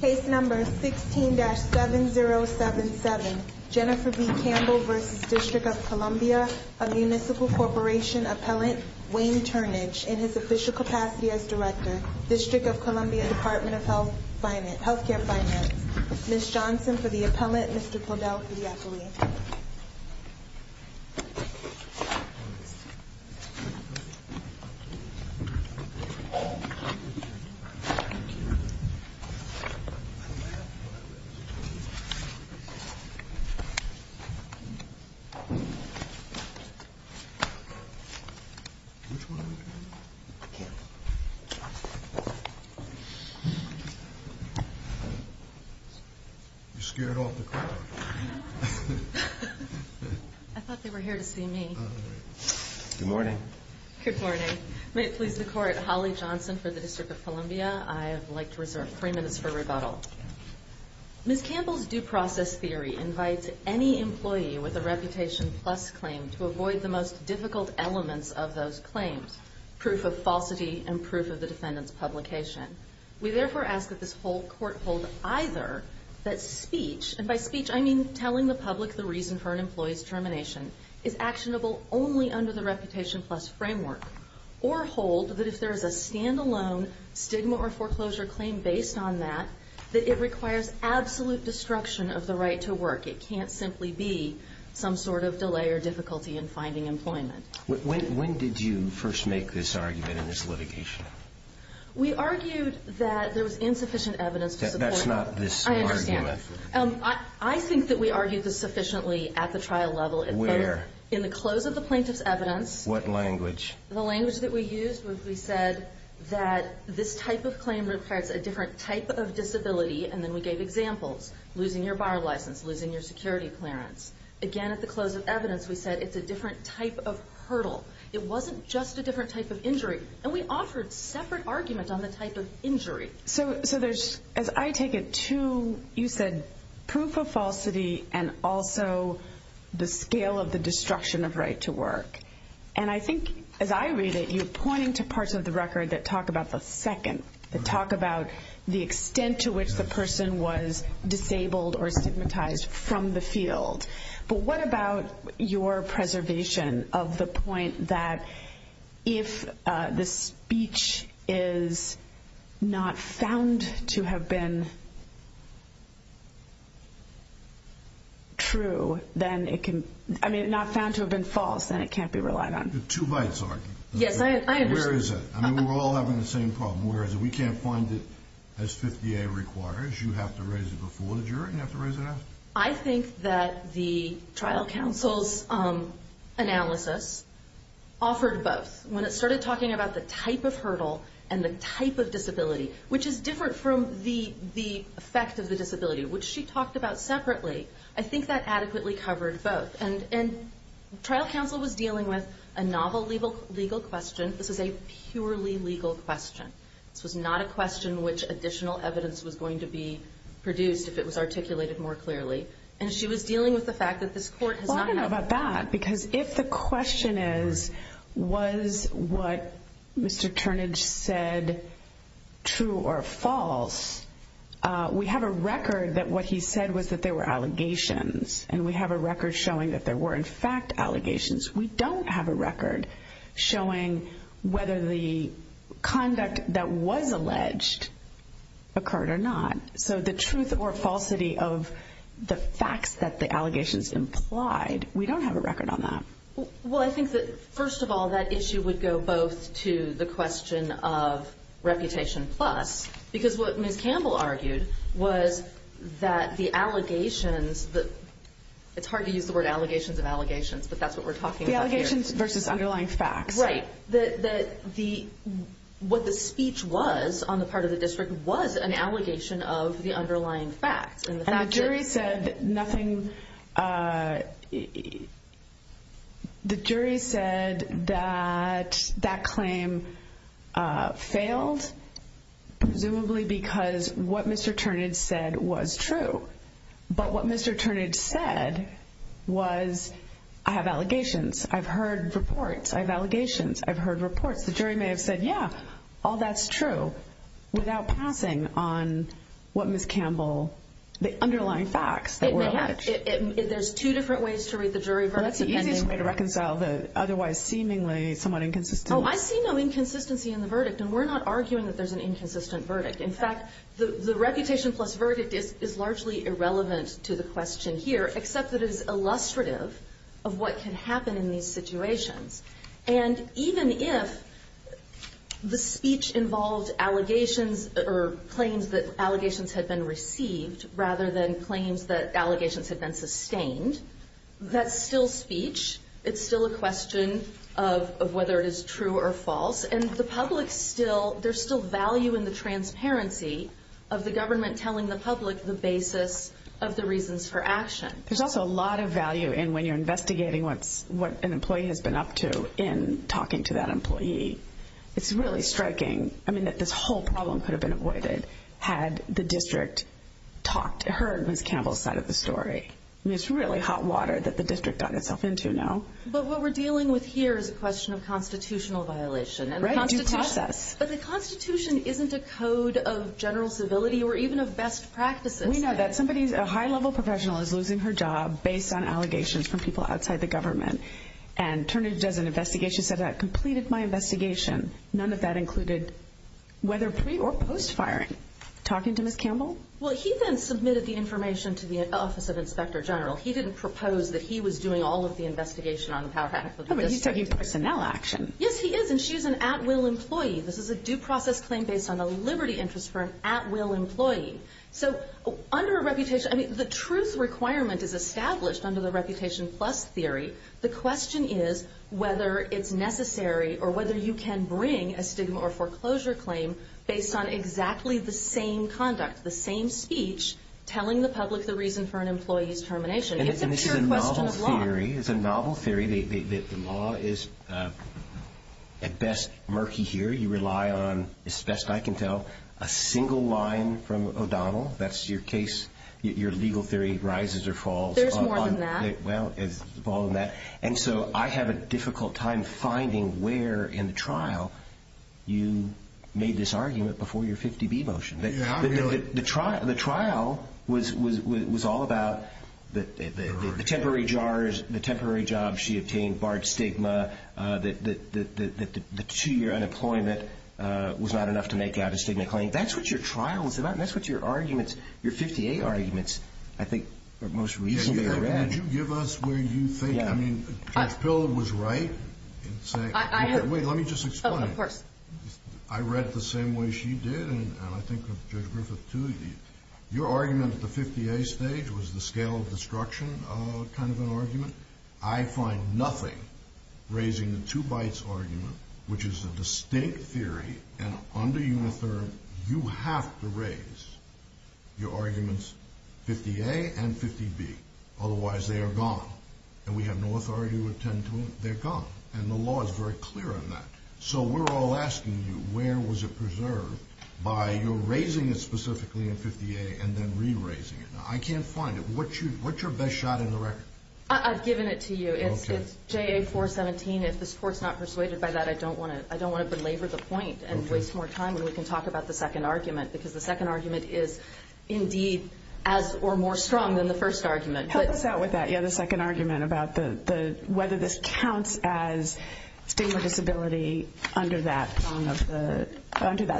Case number 16-7077, Jennifer B. Campbell v. District of Columbia A Municipal Corporation Appellant, Wayne Turnage In his official capacity as Director District of Columbia Department of Health Care Finance Ms. Johnson for the Appellant, Mr. Podell for the Appellant You scared off the court I thought they were here to see me Good morning Good morning, may it please the Court Holly Johnson for the District of Columbia I would like to reserve three minutes for rebuttal Ms. Campbell's Due Process Theory invites any employee with a Reputation Plus claim to avoid the most difficult elements of those claims Proof of falsity and proof of the defendant's publication We therefore ask that this whole court hold either that speech, and by speech I mean telling the public the reason for an employee's termination is actionable only under the Reputation Plus framework or hold that if there is a stand-alone stigma or foreclosure claim based on that that it requires absolute destruction of the right to work It can't simply be some sort of delay or difficulty in finding employment When did you first make this argument in this litigation? We argued that there was insufficient evidence to support That's not this argument I think that we argued this sufficiently at the trial level Where? In the close of the plaintiff's evidence What language? The language that we used was we said that this type of claim requires a different type of disability and then we gave examples losing your bar license, losing your security clearance Again at the close of evidence we said it's a different type of hurdle It wasn't just a different type of injury So there's, as I take it, two You said proof of falsity and also the scale of the destruction of right to work and I think as I read it you're pointing to parts of the record that talk about the second that talk about the extent to which the person was disabled or stigmatized from the field but what about your preservation of the point that if the speech is not found to have been true, then it can I mean, not found to have been false, then it can't be relied on The two rights argument Yes, I understand Where is it? I mean, we're all having the same problem Where is it? We can't find it as 50A requires You have to raise it before the jury and you have to raise it after I think that the trial counsel's analysis offered both When it started talking about the type of hurdle and the type of disability which is different from the effect of the disability which she talked about separately I think that adequately covered both And trial counsel was dealing with a novel legal question This is a purely legal question This was not a question which additional evidence was going to be produced if it was articulated more clearly And she was dealing with the fact that this court has not Well, I don't know about that Because if the question is was what Mr. Turnage said true or false we have a record that what he said was that there were allegations and we have a record showing that there were in fact allegations We don't have a record showing whether the conduct that was alleged occurred or not So the truth or falsity of the facts that the allegations implied We don't have a record on that Well, I think that first of all that issue would go both to the question of reputation plus because what Ms. Campbell argued was that the allegations It's hard to use the word allegations of allegations but that's what we're talking about here The allegations versus underlying facts Right What the speech was on the part of the district was an allegation of the underlying facts And the jury said nothing The jury said that that claim failed presumably because what Mr. Turnage said was true But what Mr. Turnage said was I have allegations I've heard reports I have allegations I've heard reports The jury may have said yeah all that's true without passing on what Ms. Campbell the underlying facts that were alleged There's two different ways to read the jury verdict That's the easiest way to reconcile the otherwise seemingly somewhat inconsistent Oh, I see no inconsistency in the verdict and we're not arguing that there's an inconsistent verdict In fact, the reputation plus verdict is largely irrelevant to the question here except that it is illustrative of what can happen in these situations And even if the speech involved allegations or claims that allegations had been received rather than claims that allegations had been sustained that's still speech It's still a question of whether it is true or false And the public still there's still value in the transparency of the government telling the public the basis of the reasons for action There's also a lot of value in when you're investigating what an employee has been up to in talking to that employee It's really striking that this whole problem could have been avoided had the district heard Ms. Campbell's side of the story It's really hot water that the district got itself into now But what we're dealing with here is a question of constitutional violation But the Constitution isn't a code of general civility or even of best practices We know that a high-level professional is losing her job based on allegations from people outside the government And Turnage does an investigation She said, I completed my investigation None of that included whether pre- or post-firing Talking to Ms. Campbell? Well, he then submitted the information to the Office of Inspector General He didn't propose that he was doing all of the investigation on the power act Oh, but he's taking personnel action Yes, he is, and she's an at-will employee This is a due process claim based on a liberty interest for an at-will employee So, under a reputation I mean, the truth requirement is established under the Reputation Plus theory The question is whether it's necessary or whether you can bring a stigma or foreclosure claim based on exactly the same conduct the same speech telling the public the reason for an employee's termination It's a pure question of law It's a novel theory The law is, at best, murky here You rely on, as best I can tell a single line from O'Donnell That's your case Your legal theory rises or falls There's more than that Well, it's more than that And so, I have a difficult time finding where, in the trial you made this argument before your 50B motion The trial was all about the temporary jars the temporary job she obtained barred stigma the two-year unemployment was not enough to make out a stigma claim That's what your trial was about That's what your arguments your 50A arguments I think, for the most reason Could you give us where you think Judge Pillard was right Wait, let me just explain Of course I read the same way she did and I think Judge Griffith, too Your argument at the 50A stage was the scale of destruction kind of an argument I find nothing raising the two-bites argument which is a distinct theory and under Unitherm you have to raise your arguments 50A and 50B otherwise they are gone and we have no authority to attend to them they're gone and the law is very clear on that So we're all asking you where was it preserved by your raising it specifically in 50A and then re-raising it I can't find it What's your best shot in the record? I've given it to you It's JA-417 If this Court's not persuaded by that I don't want to belabor the point and waste more time when we can talk about the second argument because the second argument is indeed as or more strong than the first argument Help us out with that the second argument about whether this counts as stigma disability under that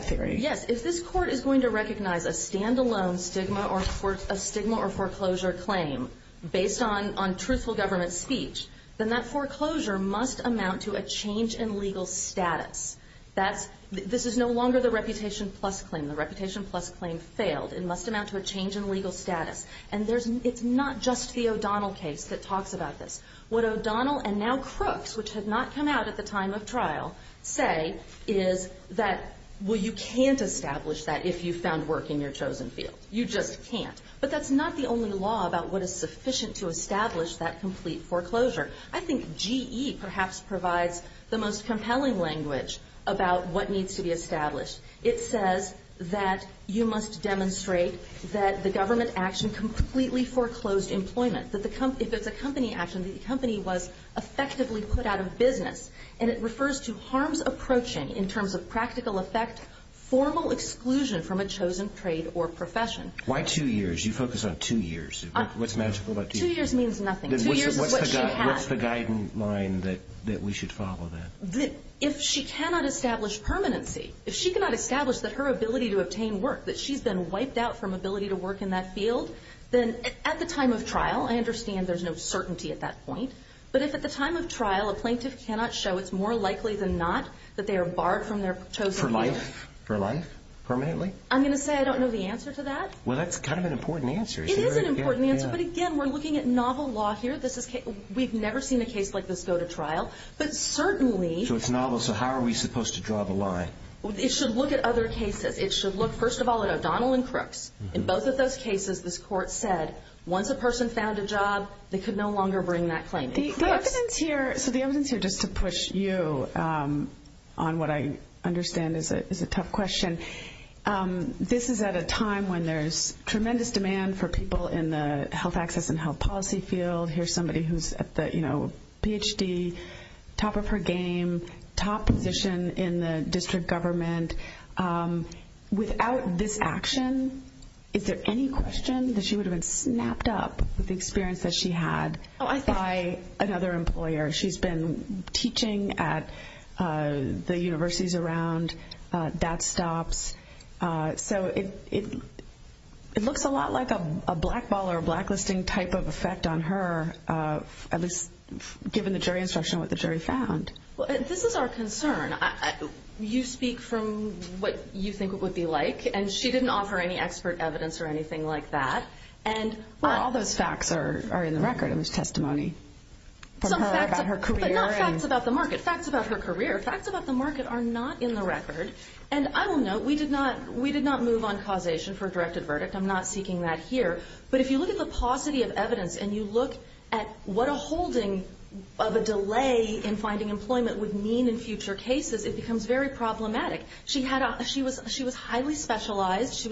theory Yes, if this Court is going to recognize a stand-alone stigma or foreclosure claim based on truthful government speech then that foreclosure must amount to a change in legal status This is no longer the reputation plus claim The reputation plus claim failed It must amount to a change in legal status And it's not just the O'Donnell case that talks about this What O'Donnell and now Crooks which had not come out at the time of trial say is that well, you can't establish that if you found work in your chosen field You just can't But that's not the only law about what is sufficient to establish that complete foreclosure I think GE perhaps provides the most compelling language about what needs to be established It says that you must demonstrate that the government action completely foreclosed employment If it's a company action the company was effectively put out of business And it refers to harms approaching in terms of practical effect formal exclusion from a chosen trade or profession Why two years? You focus on two years What's magical about two years? Two years means nothing Two years is what she had What's the guideline that we should follow then? If she cannot establish permanency If she cannot establish that her ability to obtain work that she's been wiped out from ability to work in that field then at the time of trial I understand there's no certainty at that point But if at the time of trial a plaintiff cannot show it's more likely than not that they are barred from their chosen field For life? For life? Permanently? I'm going to say I don't know the answer to that Well, that's kind of an important answer It is an important answer But again, we're looking at novel law here We've never seen a case like this go to trial But certainly So it's novel It's novel So how are we supposed to draw the line? It should look at other cases It should look first of all at O'Donnell and Crooks In both of those cases this court said once a person found a job they could no longer bring that claim The evidence here just to push you on what I understand is a tough question This is at a time when there's health access and health policy field Here's somebody who's at the, you know Ph.D. top of her game top of her game top of her game position in the district government without this action is there any question that she would have been snapped up with the experience that she had by another employer She's been teaching at the universities around that stops So it looks a lot like a blackball the jury instruction on what the jury found Well, this is our concern I think I think I think I think I think I think I think I think the jury's concern you speak from what you think what you think would be like and she didn't offer any expert evidence or anything like that and Well, all those facts are in the record in this testimony Some facts About her career but not facts about the market facts about her career facts about the market are not in the record And I will note we did not We did not move on causation for a directed verdict I'm not seeking that here But if you look at the paucity of evidence and you look at what a holding of a delay in finding employment would mean in future cases it becomes very problematic She was highly specialized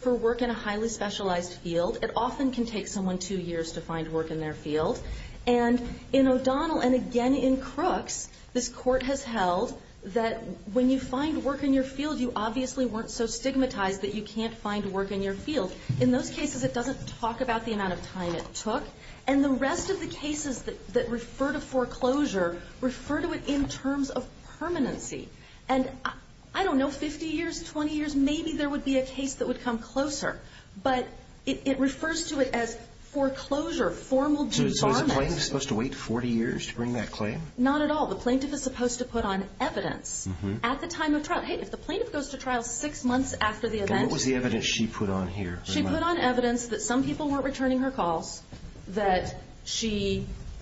for work in a highly specialized field It often can take someone two years to find work in their field And in O'Donnell and again in Crooks this court has held that when you find work in your field you obviously weren't so stigmatized that you can't find work in your field In those cases it doesn't talk about the amount of time it took And the rest of the cases that refer to foreclosure refer to it in terms of permanency And I don't know 50 years 20 years maybe there would be a case that would come closer But it refers to it as foreclosure formal Is the plaintiff supposed to wait 40 years to bring that claim? Not at all The plaintiff is supposed to put on evidence at the time of trial If the plaintiff goes to trial six months after the event And what was the evidence she put on here? She put on evidence that some people weren't returning her calls, that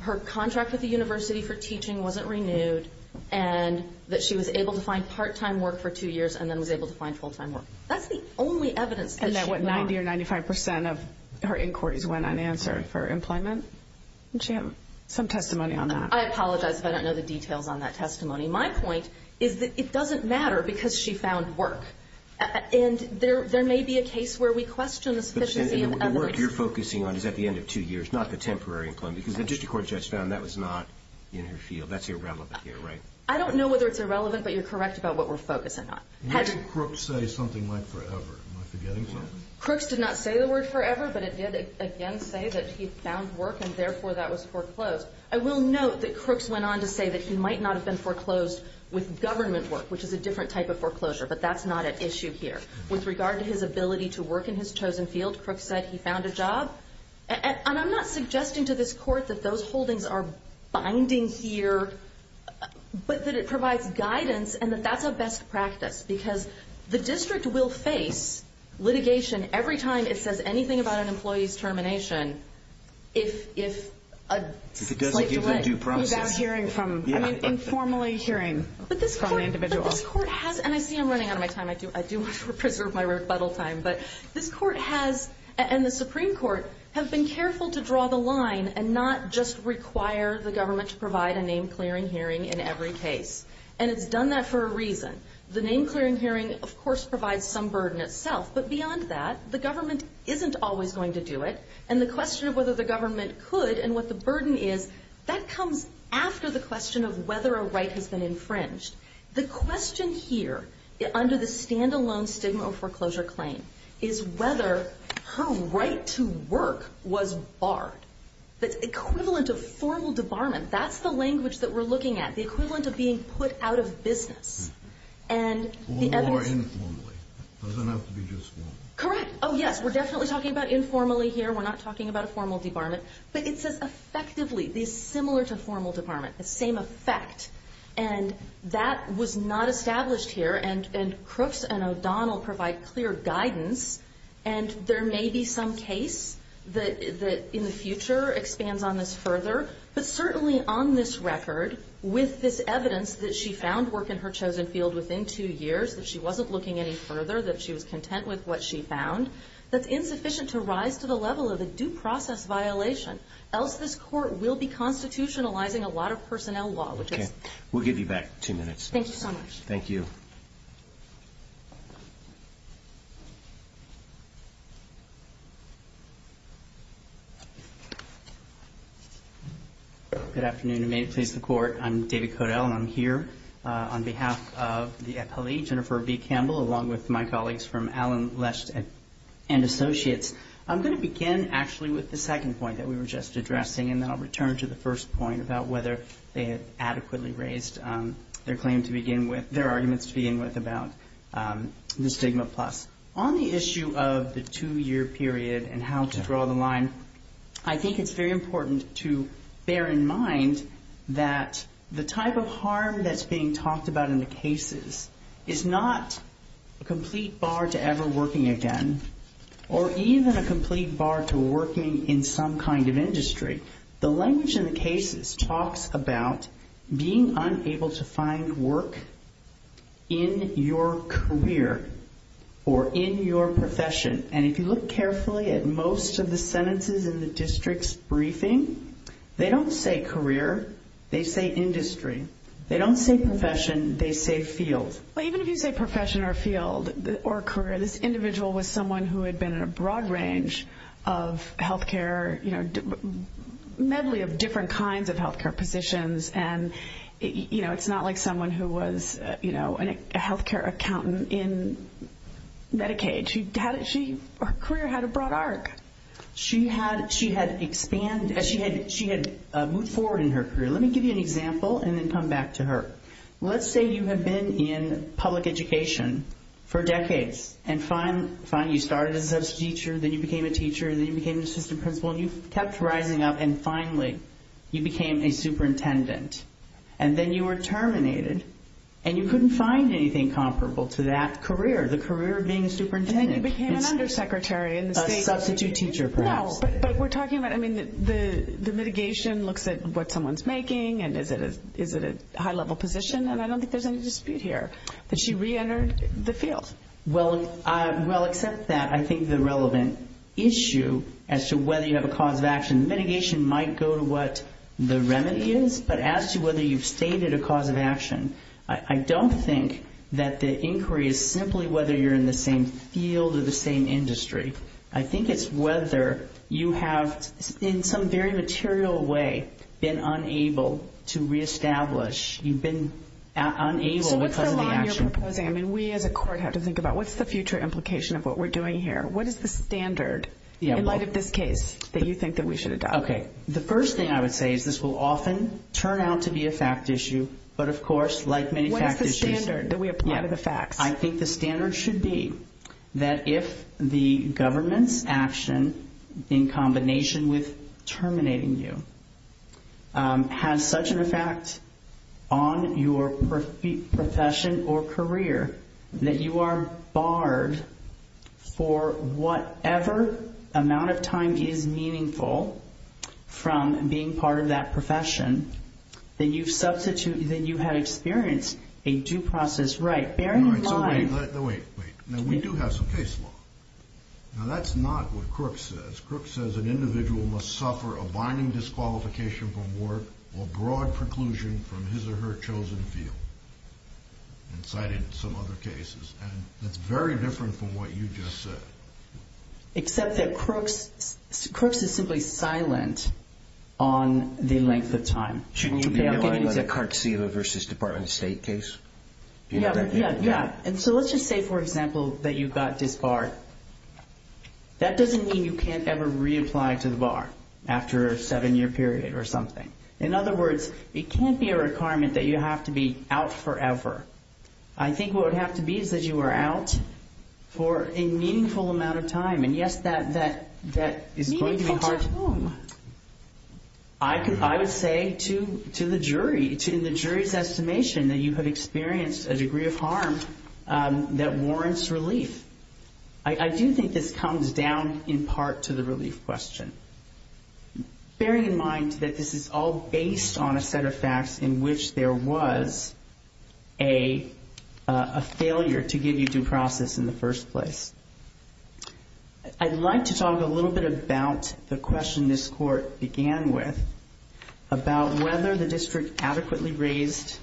her contract with the university for teaching wasn't renewed, and that she was able to find part-time work for two years and then was able to find full-time work That's the only evidence that she put on And what 90 or 95 percent of her inquiries went unanswered for employment Did she have some testimony on that? I apologize if I don't know the details on that testimony My point is that it doesn't matter because she found work And there may be a case where we question the sufficiency of evidence And the work you're focusing on is at the end of two years, not the temporary employment Because the district court judge found that was not in her field That's irrelevant here, right? I don't know whether it's irrelevant, but you're correct about what we're focusing on What did Crooks say something like forever? Am I forgetting something? Crooks did not say the word forever, but it did, again, say that he found work and therefore that was foreclosed I will note that Crooks went on to say that he might not have been foreclosed with government work which is a different type of foreclosure But that's not at issue here With regard to his ability to work in his chosen field, Crooks said he found a job And I'm not suggesting to this court that he foreclosed government work But I do want to note that this court has been careful to draw the line and not just require the government to provide a name clearing hearing in every case And it's done that for a reason The name clearing for a reason The question of whether the government could and what the burden is that comes after the question of whether a right has been infringed The question here under the stand alone stigma foreclosure claim is whether her right to work was barred The equivalent of formal debarment That's the language that we're looking at The equivalent of being put out of business Or informally It doesn't have to be just formal Correct Oh yes We're definitely talking about informally here We're not talking about a formal debarment But it says effectively similar to formal debarment The same effect And that was not established here And Crooks and O'Donnell provide clear guidance And there may be some case that in the future expands on this further But certainly on this record with this evidence that she found work in her chosen field within two years That she wasn't looking any further That she was content with what she found That's insufficient to rise to the level of a due process violation Else this court will be constitutionalizing a lot of personnel law We'll give you back two minutes Thank you Good afternoon and may it please the court I'm David Codell and I'm here on behalf of the appellee Jennifer B. Campbell along with my colleagues from Allen and Associates I'm going to begin actually with the second point that we were just addressing and then I'll return to the first point about whether they had adequately raised their arguments to begin with about the stigma plus On the issue of the two year period and how to draw the line I think it's very important to bear in mind that the type of harm that's being talked about in the cases is not a complete bar to ever working again or even a complete bar to working in some kind of industry The language in the cases talks about being unable to find work in your career or in your profession and if you look carefully at most of the sentences in the district's briefing they don't say career they say industry they don't say profession they say field Even if you say profession or field or career this individual was someone who had been in a broad range of health care medley of different kinds of health care positions and it's not like someone who was a health care accountant in Medicaid Her career had a broad arc She had moved forward in her career let me give you an example and then come back to her Let's say you have been in public education for decades and finally you started as a substitute teacher then you became a teacher then you became an assistant principal and you kept rising up and finally you became a superintendent and then you were terminated and you couldn't find anything comparable to that career the career of being a superintendent And then you became an undersecretary A substitute teacher perhaps But we're talking about the mitigation looks at what someone's making and is it a high level position and I don't think there's any dispute here that she reentered the field Well except that I think the relevant issue as to whether you have a cause of action mitigation might go to what the remedy is but as to whether you've created a cause of action I don't think that the inquiry is simply whether you're in the same field or the same industry I think it's whether you very material way been unable to reestablish you've been unable because of the action So what's the line you're proposing? I mean we as a court have to think about what's the future implication of what we're doing here What is the standard in light of this case that you think that we should adopt? The first thing I would say is this will often turn out to be a fact issue but of course like many fact issues What is the standard that we apply to the facts? I think the standard should be that if the government's action in combination with terminating you has such an effect on your profession or your professional success for whatever amount of time is meaningful from being part of that profession then you have experienced a due process right Bear in mind Now wait Now we do have some case law Now that's not what Crook says Crook says an individual must suffer a binding disqualification from work or broad preclusion from his or her chosen field and cited in some other cases and that's very different from what you just said Except that Crook's Crook's is simply silent on the length of time Shouldn't you know about the Cartesila v. Department of State case? Yeah So let's just say for example that you got disbarred That doesn't mean you can't ever reapply to the bar after a seven year period or something In other words it can't be a requirement that you have to be out forever I think what would have to be is that you are out for a meaningful amount of time and yes that is going to be hard Meaningful time I would say to the jury in the jury's estimation that you have been out for amount of time I do think this comes down in part to the relief question Bearing in mind that this is all based on a set of facts in which there failure to give you due process in the first place I'd like to talk a little bit about the question this court began with about whether the district adequately raised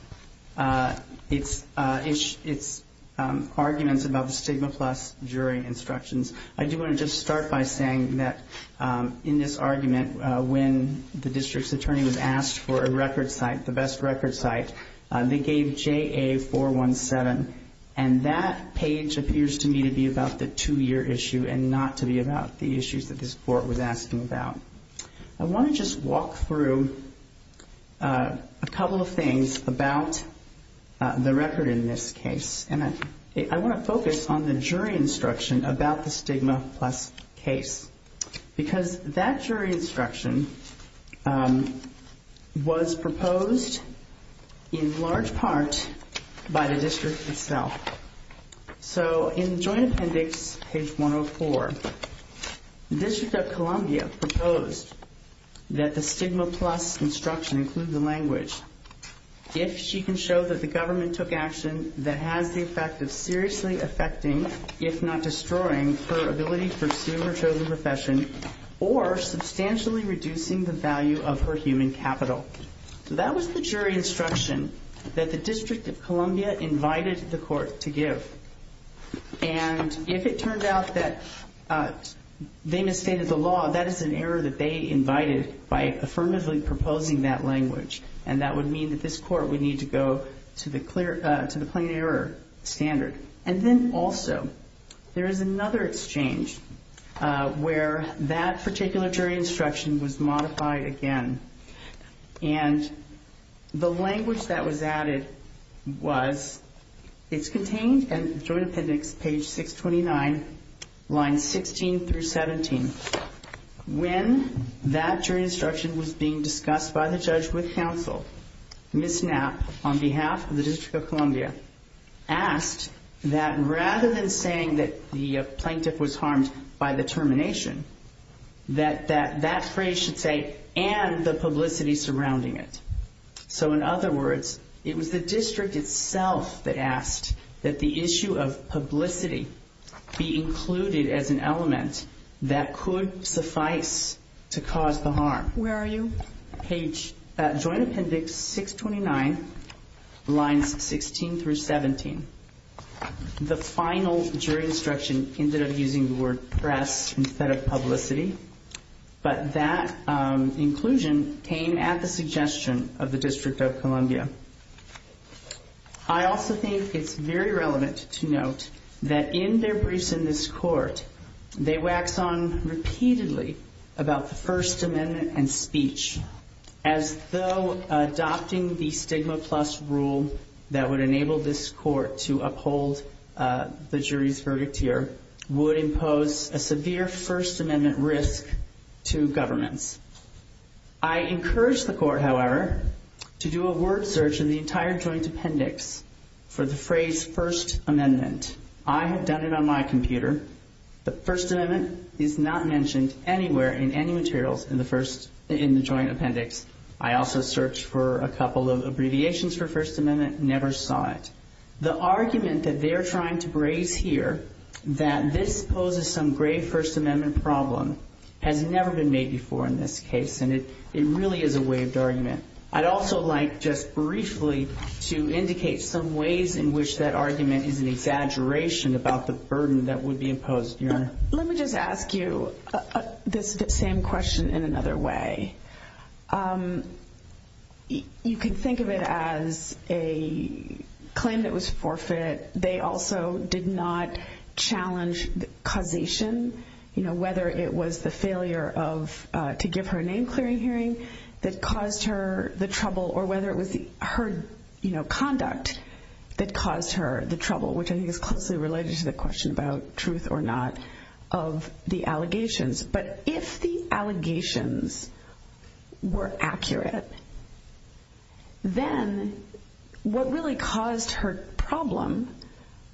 its arguments about the stigma plus jury instructions I do want to just start by saying that in this argument when the district's attorney was asked for a record site the best record site they gave JA417 and that page appears to me to be about the two year issue and not to be about the issues that this court was asking about I want to just walk through a couple of things about the record in this case and I want to focus on the jury instruction stigma plus case because that jury instruction was proposed in large part by the district itself so in joint appendix page 104 this jury instruction the district of Columbia proposed that the stigma plus instruction includes the language if she can show that the government took action that has the effect of seriously affecting if not destroying her ability to pursue her chosen profession or substantially reducing the ability her chosen profession they misstated the law that is an error that they invited by affirmatively proposing that language and that would mean that this court would need to go to the plain error standard and then also there is another exchange where that jury instruction is being discussed by the judge with counsel Ms. Knapp on behalf of the district of Columbia asked that rather than saying that the plaintiff was harmed by the termination that that phrase should say and the publicity surrounding it. So in other words it was the district itself that asked that the issue of publicity be included as an element that could suffice to cause the harm. Where are you? Joint appendix 629 lines 16 through 17. The final jury instruction ended up using the word press instead of publicity but that inclusion came at the suggestion of the district of Columbia. I also think it's very relevant to note that in their briefs in this court they wax on repeatedly about the first amendment and speech as though adopting the stigma plus rule that would enable this court to uphold the jury's verdict here would impose a severe first amendment risk to governments. I encourage the court however to do a word search in the entire joint appendix for the phrase first amendment. I have done it on my computer. The first amendment is not mentioned anywhere in any materials in the joint appendix. I also searched for a couple of abbreviations for first amendment, never saw it. The argument that they're trying to raise here that this poses some grave first amendment problem has never been made before in this case. It really is a waived argument. I'd also like just briefly to indicate some ways in which that argument is an exaggeration about the burden that would be imposed. Let me just ask you this same question in another way. You can think of it as a claim that was forfeit. They also did not challenge causation, you know, whether it was the failure of to give her a name clearing hearing that caused her the trouble or whether it was her conduct that caused her the trouble, which I think is closely related to the question about truth or not of the allegations. But if the allegations were accurate, then what really caused her problem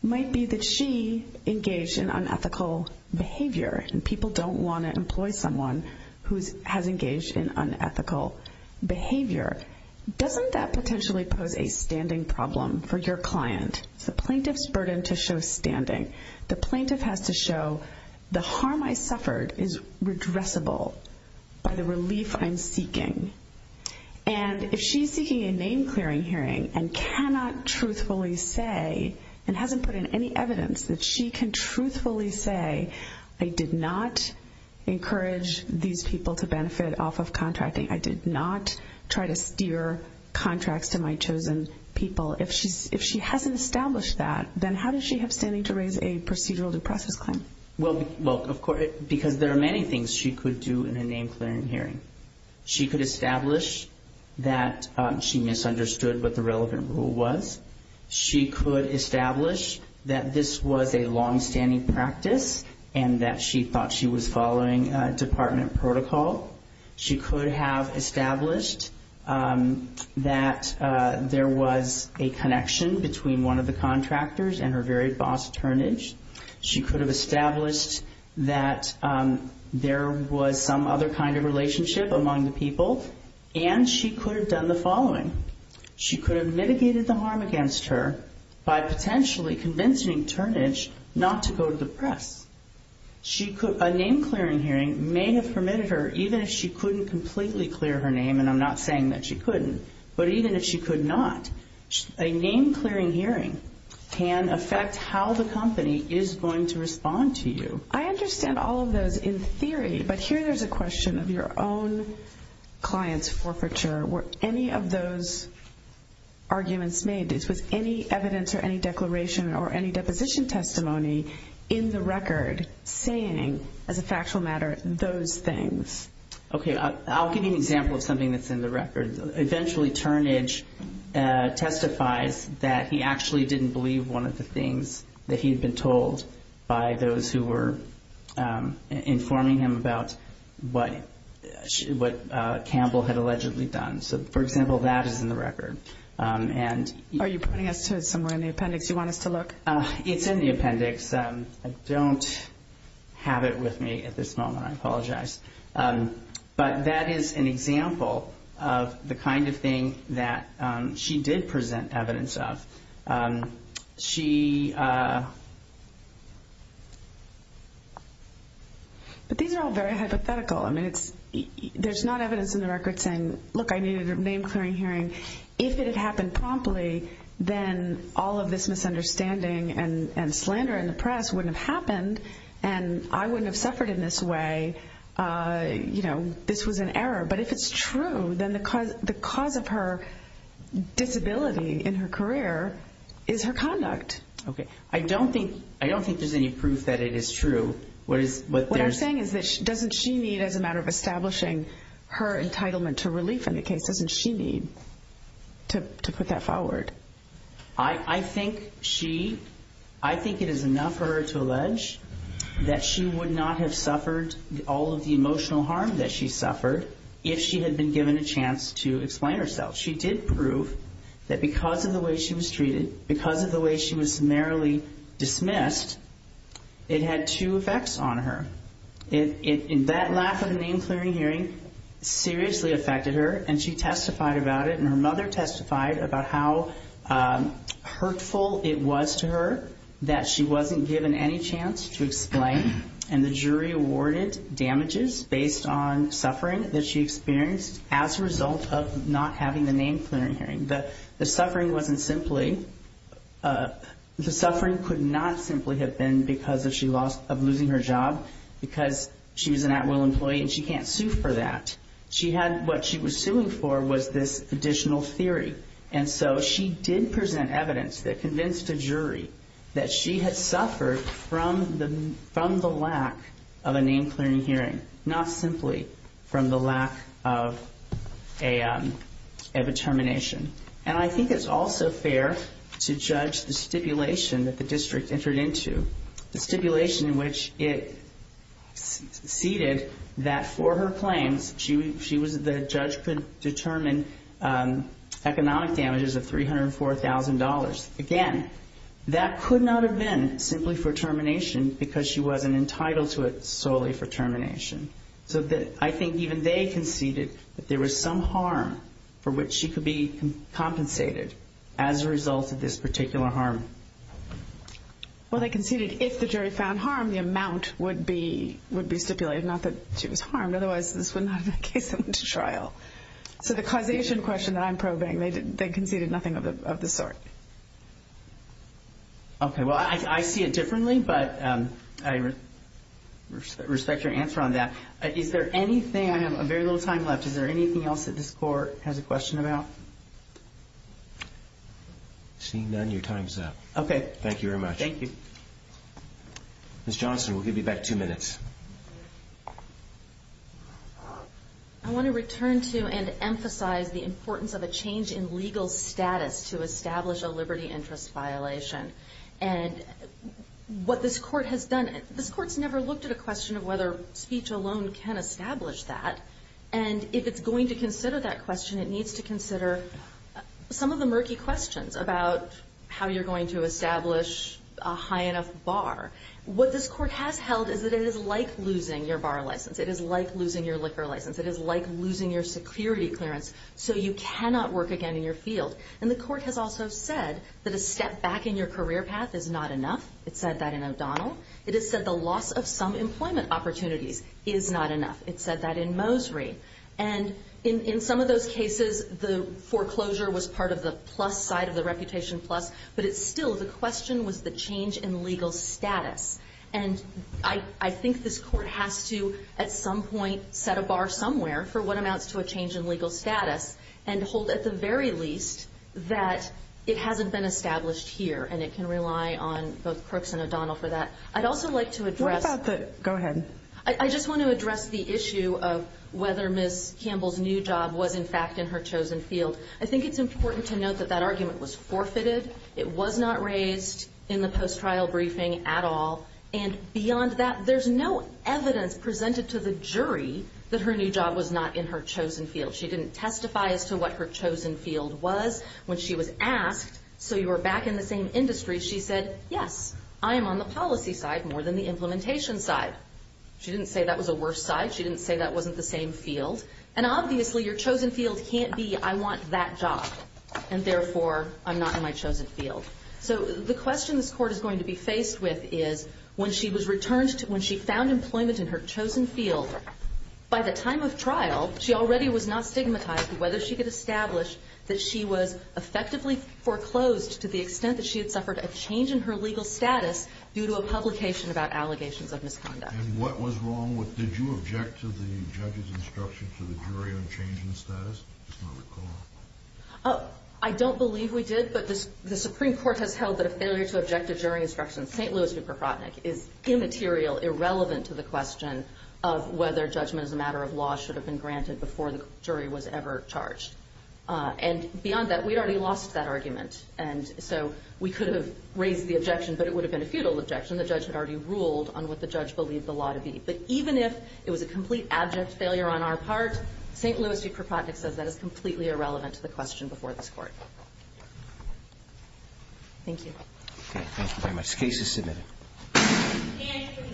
might be that she engaged in unethical behavior and people don't want to employ someone who has engaged in unethical behavior. Doesn't that potentially pose a standing problem for your client? It's the plaintiff's burden to show standing. plaintiff has to show the harm I suffered is redressable by the relief I'm seeking. And if she's seeking a name clearing hearing and cannot truthfully say and hasn't put in any exterior contracts to my chosen people, if she hasn't established that, then how does she have standing to raise a procedural due process claim? Because there are many things she could do in a name clearing hearing. She could establish that she misunderstood what the relevant rule was. She could establish that this was a long-standing practice and that she thought she was following department protocol. She could have established that there was a connection between one of the contractors and her very boss turnage. She could have established that there was some other kind of relationship among the people, and she could have done the following. She could have mitigated the harm against her by potentially convincing turnage not to go to the press. A name clearing hearing may have permitted her, even if she couldn't completely clear her name, and I'm not sure that she don't know. I don't know. I don't know. I don't know. I don't know. I don't know. I don't don't know. know. I don't know. I don't know. I don't know. I don't know. I don't know. I don't know. I don't know. don't know. I think it's also fair to judge the stipulation that the district entered into, the stipulation in which it conceded that for her claims, the judge could determine economic damages of $304,000. Again, that could not have been simply for termination because she wasn't entitled to it solely for termination. So I think even they conceded that there was some harm for which she could be compensated as a result of this particular harm. Well, they conceded if the jury found harm, the amount would be stipulated, not that she was harmed. Otherwise, this would not have been a case that went to trial. So the causation question that I'm probing, they conceded nothing of the sort. Okay. Well, I see it differently, but I respect your answer on that. Is there anything, I have very little time left, is there anything else that this court has a question about? Seeing none, your time's up. Okay. Thank you very much. Thank you. Ms. Johnson, we'll give you back two minutes. I want to return to and emphasize the importance of a change in legal status to establish a liberty interest violation. And what this court has done, this court's never looked at a question of whether speech alone can establish that. And if it's going to consider that question, it needs to consider some of the murky questions about how you're going to establish a high enough bar. What this court has held is that it is like losing your bar license. It is like losing your liquor license. It is like losing your security clearance. So you cannot work again in your field. And the court has also said that a step back in your career path is not enough. It said that in O'Donnell. It has said the loss of some employment opportunities is not enough. It said that in Mosery. And in some of those cases, the foreclosure was part of the plus side of the reputation plus, but it's still, the question was the change in legal status. And I think this court has to, at some point, set a bar somewhere for what amounts to a change in legal status and hold at the very least that it hasn't been established here. And it can rely on both sides. What about the, go ahead. I just want to address the issue of whether Ms. Campbell's new job was in fact in her chosen field. I think it's important to note that that argument was forfeited. It was not raised in the post-trial briefing at all. And beyond that, there's no evidence presented to the jury that her new job was not in her chosen field. She didn't testify as to what her chosen field was when she was asked. So you were back in the same industry. She said, yes, I am on the policy side more than the implementation side. She didn't say that was a worse side. She didn't say that wasn't the same field. And obviously, your chosen field can't be I want that job, and therefore, I'm not in my chosen field. So the question this Court is going to be faced with is when she was returned to, when she found employment in her chosen field, by the time of trial, she already was not stigmatized whether she could establish that she was effectively foreclosed to the extent that she had suffered a change in her legal status due to a publication about allegations of misconduct. And what was wrong with, did you object to the judge's instruction to the jury on change in the status? I don't recall. I don't believe we did, but the Supreme Court has held that a failure to object to jury instruction, St. Louis v. Prokhotnik, is immaterial, irrelevant to the question of whether judgment as a matter of law should have been granted before the jury was ever charged. And beyond that, we'd already lost that argument. And so we could have raised the objection, but it would have been a futile objection. The judge had already ruled on what the judge believed the law to be. But even if it was a complete abject failure on our part, St. Louis v. Prokhotnik says that is completely irrelevant to the question before this Court. Thank you. Thank you very much. The case is submitted.